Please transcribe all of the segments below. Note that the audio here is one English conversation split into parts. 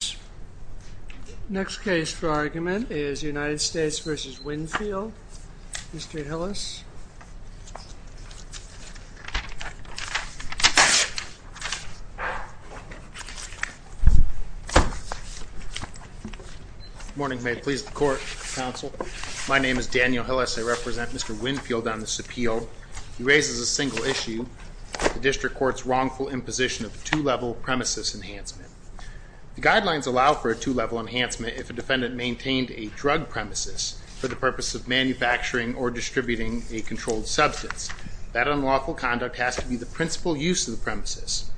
The next case for argument is United States v. Winfield. Mr. Hillis. Good morning. May it please the Court, Counsel. My name is Daniel Hillis. I represent Mr. Winfield on this appeal. He raises a single issue, the District Court's wrongful imposition of a two-level premises enhancement. The guidelines allow for a two-level enhancement if a defendant maintained a drug premises for the purpose of manufacturing or distributing a controlled substance. That unlawful conduct has to be the principal use of the premises.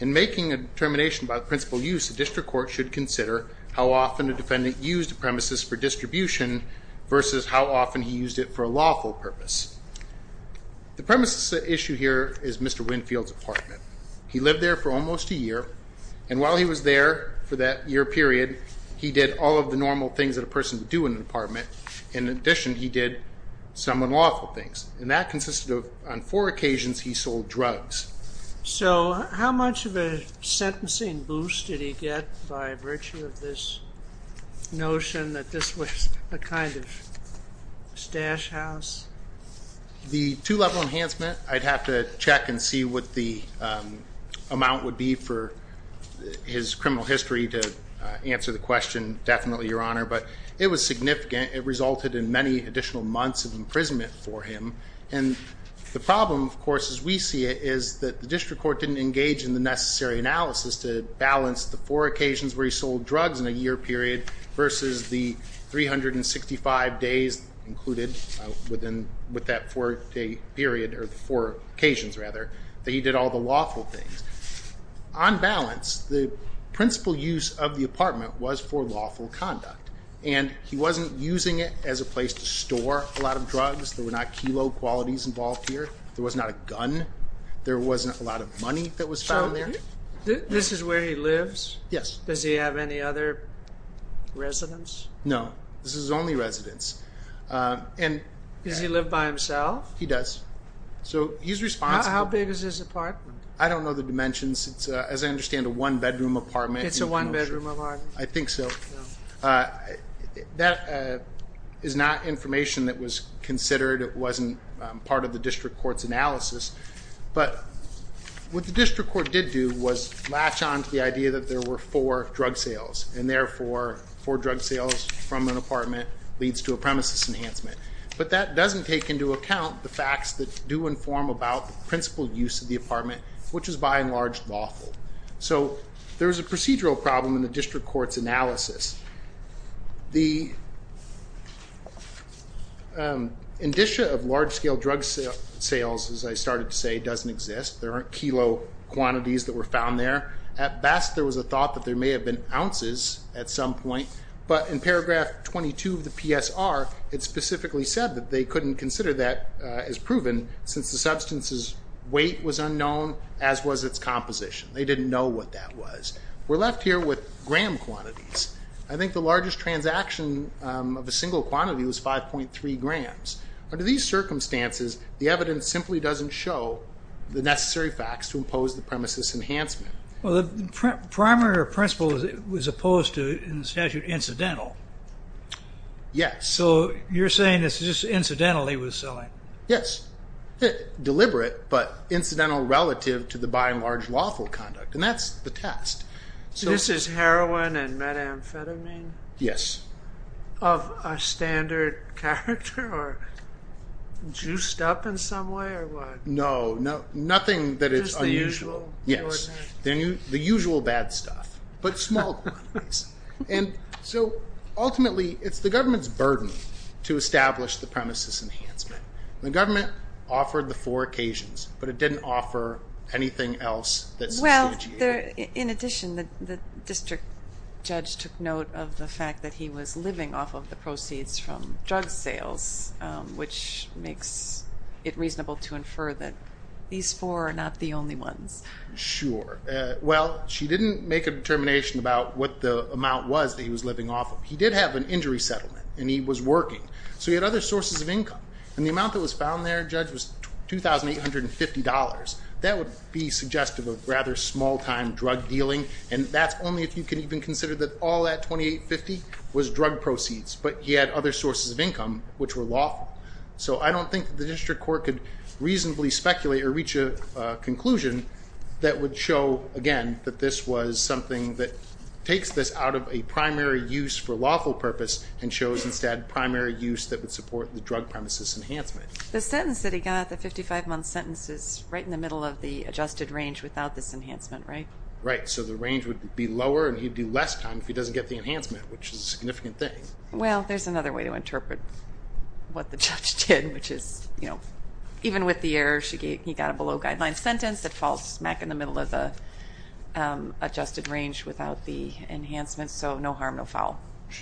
In making a determination about the principal use, the District Court should consider how often a defendant used a premises for distribution versus how often he used it for a lawful purpose. The premises issue here is Mr. Winfield's apartment. He lived there for almost a year, and while he was there for that year period, he did all of the normal things that a person would do in an apartment. In addition, he did some unlawful things, and that consisted of, on four occasions, he sold drugs. So how much of a sentencing boost did he get by virtue of this notion that this was a kind of stash house? The two-level enhancement, I'd have to check and see what the amount would be for his criminal history to answer the question, definitely, Your Honor, but it was significant. It resulted in many additional months of imprisonment for him, and the problem, of course, as we see it, is that the District Court didn't engage in the necessary analysis to balance the four occasions where he sold drugs in a year period versus the 365 days included with that four-day period, or the four occasions, rather, that he did all the lawful things. On balance, the principal use of the apartment was for lawful conduct, and he wasn't using it as a place to store a lot of drugs. There were not kilo qualities involved here. There was not a gun. There wasn't a lot of money that was found there. So this is where he lives? Yes. Does he have any other residence? No. This is his only residence. Does he live by himself? He does. So he's responsible. How big is his apartment? I don't know the dimensions. It's, as I understand, a one-bedroom apartment. It's a one-bedroom apartment. I think so. That is not information that was considered. It wasn't part of the District Court's analysis. But what the District Court did do was latch on to the idea that there were four drug sales, and therefore, four drug sales from an apartment leads to a premises enhancement. But that doesn't take into account the facts that do inform about the principal use of the apartment, which is by and large lawful. The indicia of large-scale drug sales, as I started to say, doesn't exist. There aren't kilo quantities that were found there. At best, there was a thought that there may have been ounces at some point. But in paragraph 22 of the PSR, it specifically said that they couldn't consider that as proven since the substance's weight was unknown, as was its composition. They didn't know what that was. We're left here with gram quantities. I think the largest transaction of a single quantity was 5.3 grams. Under these circumstances, the evidence simply doesn't show the necessary facts to impose the premises enhancement. Well, the primary principle was opposed to in the statute incidental. Yes. So you're saying it's just incidental he was selling? Yes. Deliberate, but incidental relative to the by and large lawful conduct. That's the test. This is heroin and methamphetamine? Yes. Of a standard character or juiced up in some way or what? No, nothing that is unusual. Just the usual? Yes, the usual bad stuff, but small quantities. Ultimately, it's the government's burden to establish the premises enhancement. The government offered the four occasions, but it didn't offer anything else Well, in addition, the district judge took note of the fact that he was living off of the proceeds from drug sales, which makes it reasonable to infer that these four are not the only ones. Sure. Well, she didn't make a determination about what the amount was that he was living off of. He did have an injury settlement, and he was working, so he had other sources of income. The amount that was found there, Judge, was $2,850. That would be suggestive of rather small-time drug dealing, and that's only if you can even consider that all that $2,850 was drug proceeds, but he had other sources of income, which were lawful. So I don't think the district court could reasonably speculate or reach a conclusion that would show, again, that this was something that takes this out of a primary use for lawful purpose and shows instead primary use that would support the drug premises enhancement. The sentence that he got, the 55-month sentence, is right in the middle of the adjusted range without this enhancement, right? Right. So the range would be lower, and he'd do less time if he doesn't get the enhancement, which is a significant thing. Well, there's another way to interpret what the judge did, which is even with the error he got a below-guideline sentence, it falls smack in the middle of the adjusted range without the enhancement, so no harm, no foul.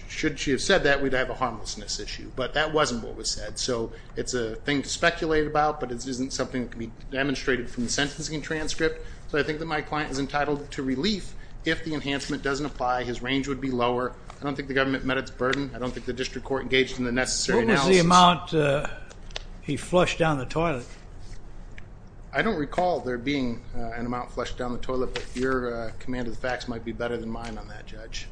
Should she have said that, we'd have a harmlessness issue, but that wasn't what was said. So it's a thing to speculate about, but it isn't something that can be demonstrated from the sentencing transcript. So I think that my client is entitled to relief if the enhancement doesn't apply, his range would be lower. I don't think the government met its burden. I don't think the district court engaged in the necessary analysis. What was the amount he flushed down the toilet? I don't recall there being an amount flushed down the toilet, but your command of the facts might be better than mine on that, Judge.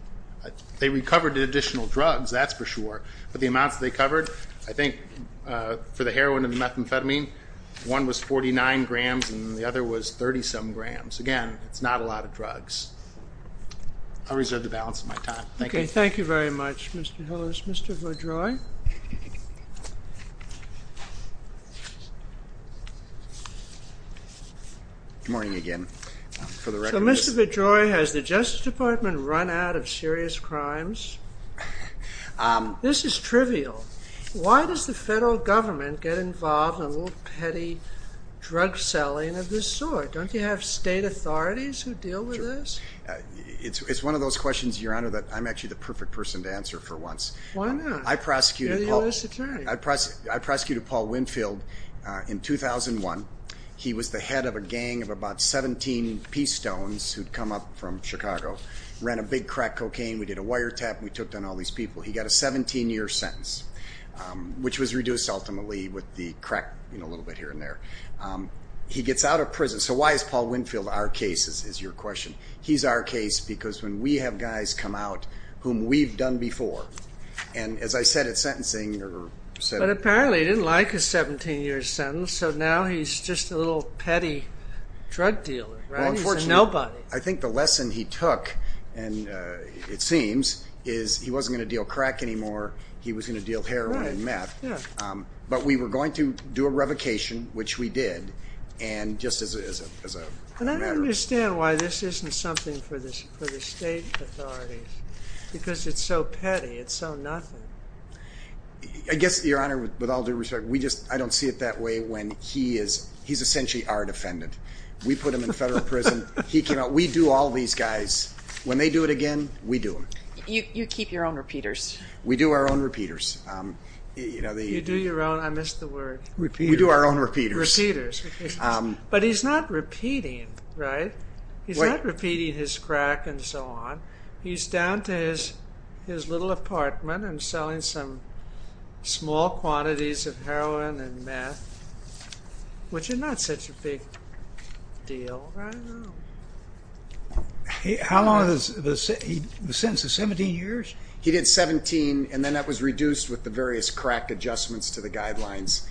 They recovered additional drugs, that's for sure, but the amounts they covered, I think, for the heroin and the methamphetamine, one was 49 grams and the other was 30-some grams. Again, it's not a lot of drugs. I'll reserve the balance of my time. Thank you. Okay, thank you very much, Mr. Hillers. Mr. Bedroy? Good morning again. So Mr. Bedroy, has the Justice Department run out of serious crimes? This is trivial. Why does the federal government get involved in a little petty drug selling of this sort? Don't you have state authorities who deal with this? It's one of those questions, Your Honor, that I'm actually the perfect person to answer for once. Why not? You're the U.S. Attorney. I prosecuted Paul Winfield in 2001. He was the head of a gang of about 17 P-stones who'd come up from Chicago, ran a big crack cocaine. We did a wiretap and we took down all these people. He got a 17-year sentence, which was reduced ultimately with the crack, you know, a little bit here and there. He gets out of prison. So why is Paul Winfield our case, is your question? He's our case because when we have guys come out whom we've done before, and as I said at sentencing or said at trial. But apparently he didn't like his 17-year sentence, so now he's just a little petty drug dealer, right? He's a nobody. I think the lesson he took, and it seems, is he wasn't going to deal crack anymore. He was going to deal heroin and meth. But we were going to do a revocation, which we did, and just as a matter of fact. And I don't understand why this isn't something for the state authorities because it's so petty. It's so nothing. I guess, Your Honor, with all due respect, I don't see it that way when he is essentially our defendant. We put him in federal prison. He came out. We do all these guys. When they do it again, we do them. You keep your own repeaters. We do our own repeaters. You do your own. I missed the word. We do our own repeaters. Repeaters. But he's not repeating, right? He's not repeating his crack and so on. He's down to his little apartment and selling some small quantities of heroin and meth, which is not such a big deal right now. How long is the sentence? 17 years? He did 17, and then that was reduced with the various crack adjustments to the guidelines.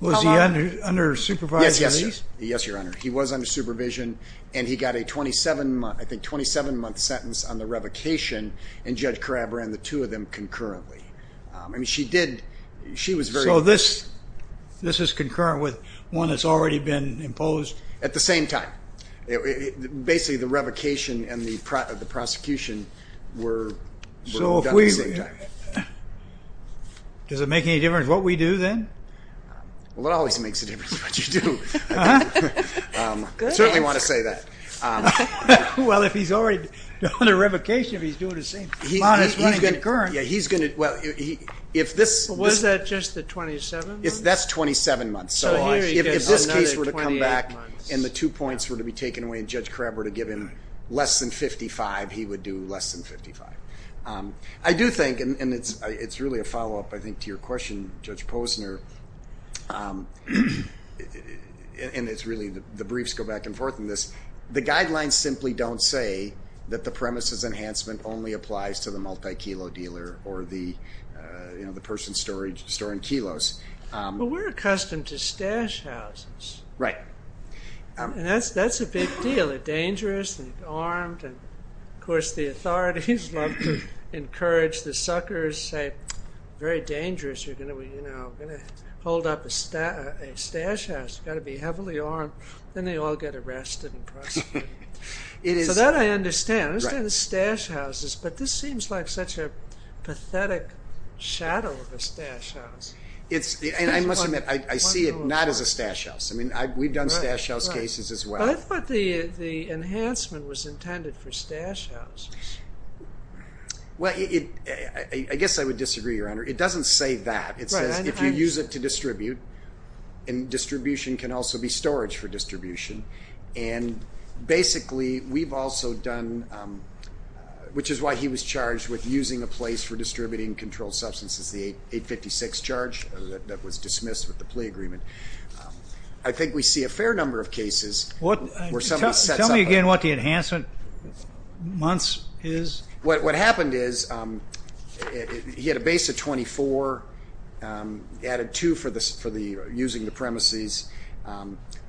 Was he under supervised release? Yes, Your Honor. He was under supervision, and he got a 27-month sentence on the revocation, and Judge Crabb ran the two of them concurrently. So this is concurrent with one that's already been imposed? At the same time. Basically, the revocation and the prosecution were done at the same time. Does it make any difference what we do then? Well, it always makes a difference what you do. I certainly want to say that. Well, if he's already done a revocation, he's doing the same. Was that just the 27 months? That's 27 months. So if this case were to come back and the two points were to be taken away and Judge Crabb were to give him less than 55, he would do less than 55. I do think, and it's really a follow-up, I think, to your question, Judge Posner, and it's really the briefs go back and forth on this, the guidelines simply don't say that the premises enhancement only applies to the multi-kilo dealer or the person storing kilos. But we're accustomed to stash houses. Right. And that's a big deal. They're dangerous, they're armed, and of course the authorities love to encourage the suckers, say, very dangerous, you're going to hold up a stash house. You've got to be heavily armed. Then they all get arrested and prosecuted. So that I understand. I understand the stash houses, but this seems like such a pathetic shadow of a stash house. And I must admit, I see it not as a stash house. I mean, we've done stash house cases as well. But I thought the enhancement was intended for stash houses. Well, I guess I would disagree, Your Honor. It doesn't say that. It says if you use it to distribute, and distribution can also be storage for distribution. And basically we've also done, which is why he was charged with using a place for distributing controlled substances, the 856 charge that was dismissed with the plea agreement. I think we see a fair number of cases where somebody sets up a place. Tell me again what the enhancement months is. What happened is he had a base of 24, added two for using the premises.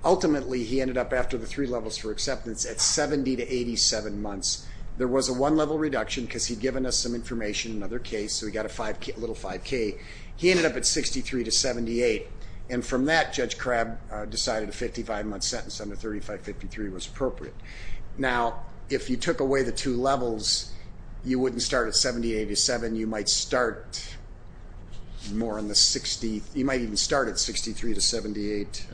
Ultimately, he ended up after the three levels for acceptance at 70 to 87 months. There was a one-level reduction because he'd given us some information, another case, so he got a little 5K. He ended up at 63 to 78, and from that Judge Crabb decided a 55-month sentence under 3553 was appropriate. Now, if you took away the two levels, you wouldn't start at 70 to 87. You might start more in the 60s. You might even start at 63 to 78,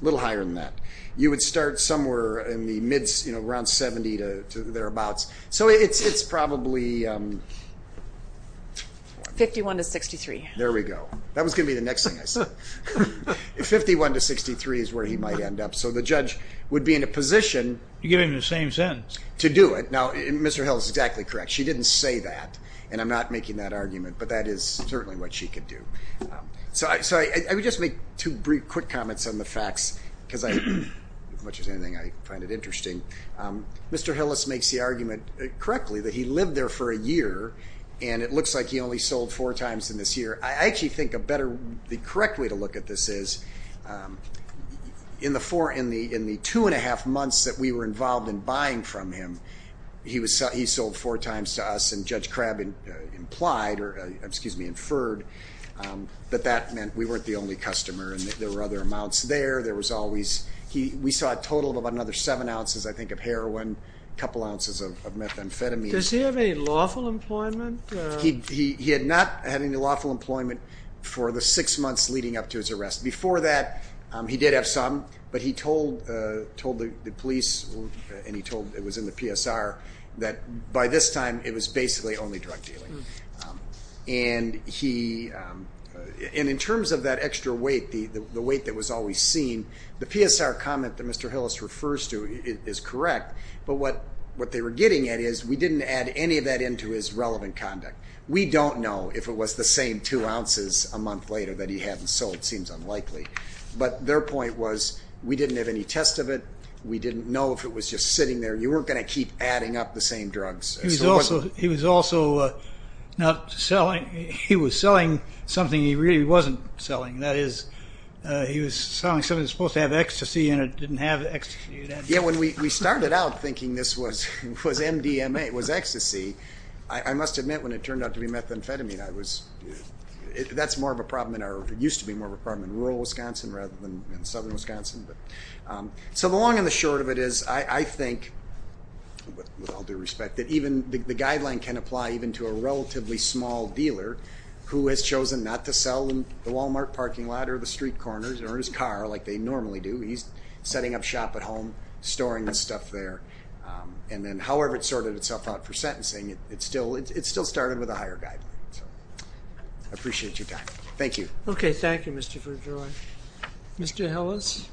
a little higher than that. You would start somewhere in the mids, around 70 to thereabouts. So it's probably... 51 to 63. There we go. That was going to be the next thing I said. 51 to 63 is where he might end up. So the judge would be in a position... You gave him the same sentence. ...to do it. Now, Mr. Hill is exactly correct. She didn't say that, and I'm not making that argument, but that is certainly what she could do. So I would just make two brief, quick comments on the facts, because I, as much as anything, I find it interesting. Mr. Hillis makes the argument correctly that he lived there for a year, and it looks like he only sold four times in this year. I actually think the correct way to look at this is in the two-and-a-half months that we were involved in buying from him, he sold four times to us, and Judge Crabb implied, or excuse me, inferred, that that meant we weren't the only customer, and that there were other amounts there. There was always... We saw a total of about another seven ounces, I think, of heroin, a couple ounces of methamphetamine. Does he have any lawful employment? He had not had any lawful employment for the six months leading up to his arrest. Before that, he did have some, but he told the police, and he told, it was in the PSR, that by this time it was basically only drug dealing. And in terms of that extra weight, the weight that was always seen, the PSR comment that Mr. Hillis refers to is correct, but what they were getting at is we didn't add any of that into his relevant conduct. We don't know if it was the same two ounces a month later that he had, and so it seems unlikely. But their point was we didn't have any test of it, we didn't know if it was just sitting there. You weren't going to keep adding up the same drugs. He was also not selling... He was selling something he really wasn't selling. That is, he was selling something that was supposed to have ecstasy and it didn't have ecstasy. Yeah, when we started out thinking this was MDMA, it was ecstasy, I must admit when it turned out to be methamphetamine, that used to be more of a problem in rural Wisconsin rather than in southern Wisconsin. So the long and the short of it is I think, with all due respect, that even the guideline can apply even to a relatively small dealer who has chosen not to sell in the Walmart parking lot or the street corners or in his car like they normally do. He's setting up shop at home, storing the stuff there, and then however it sorted itself out for sentencing, it still started with a higher guideline. So I appreciate your time. Thank you. Okay, thank you, Mr. Verdreux. Mr. Hillis?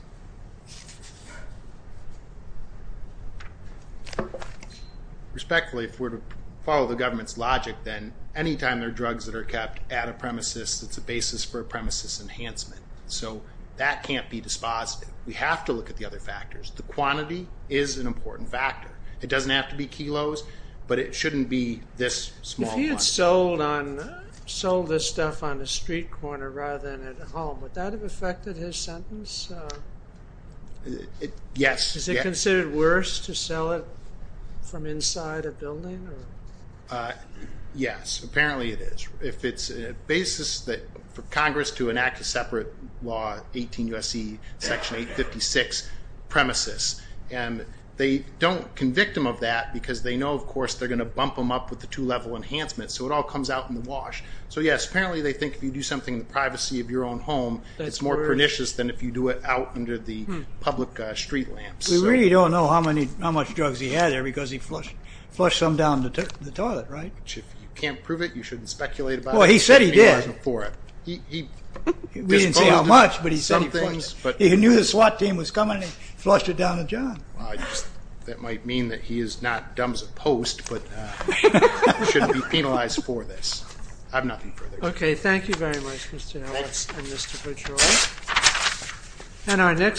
Respectfully, if we're to follow the government's logic, then any time there are drugs that are kept at a premises, it's a basis for a premises enhancement. So that can't be dispositive. We have to look at the other factors. The quantity is an important factor. It doesn't have to be kilos, but it shouldn't be this small. If he had sold this stuff on a street corner rather than at home, would that have affected his sentence? Yes. Is it considered worse to sell it from inside a building? Yes, apparently it is. If it's a basis for Congress to enact a separate law, 18 U.S.C. Section 856, premises. They don't convict him of that because they know, of course, they're going to bump him up with the two-level enhancement, so it all comes out in the wash. So, yes, apparently they think if you do something in the privacy of your own home, it's more pernicious than if you do it out under the public street lamps. We really don't know how much drugs he had there because he flushed some down the toilet, right? If you can't prove it, you shouldn't speculate about it. Well, he said he did. We didn't say how much, but he said he flushed it. Well, I guess that might mean that he is not dumb as a post, but shouldn't be penalized for this. I have nothing further to say. Okay, thank you very much, Mr. Ellis and Mr. Petroi. Thank you.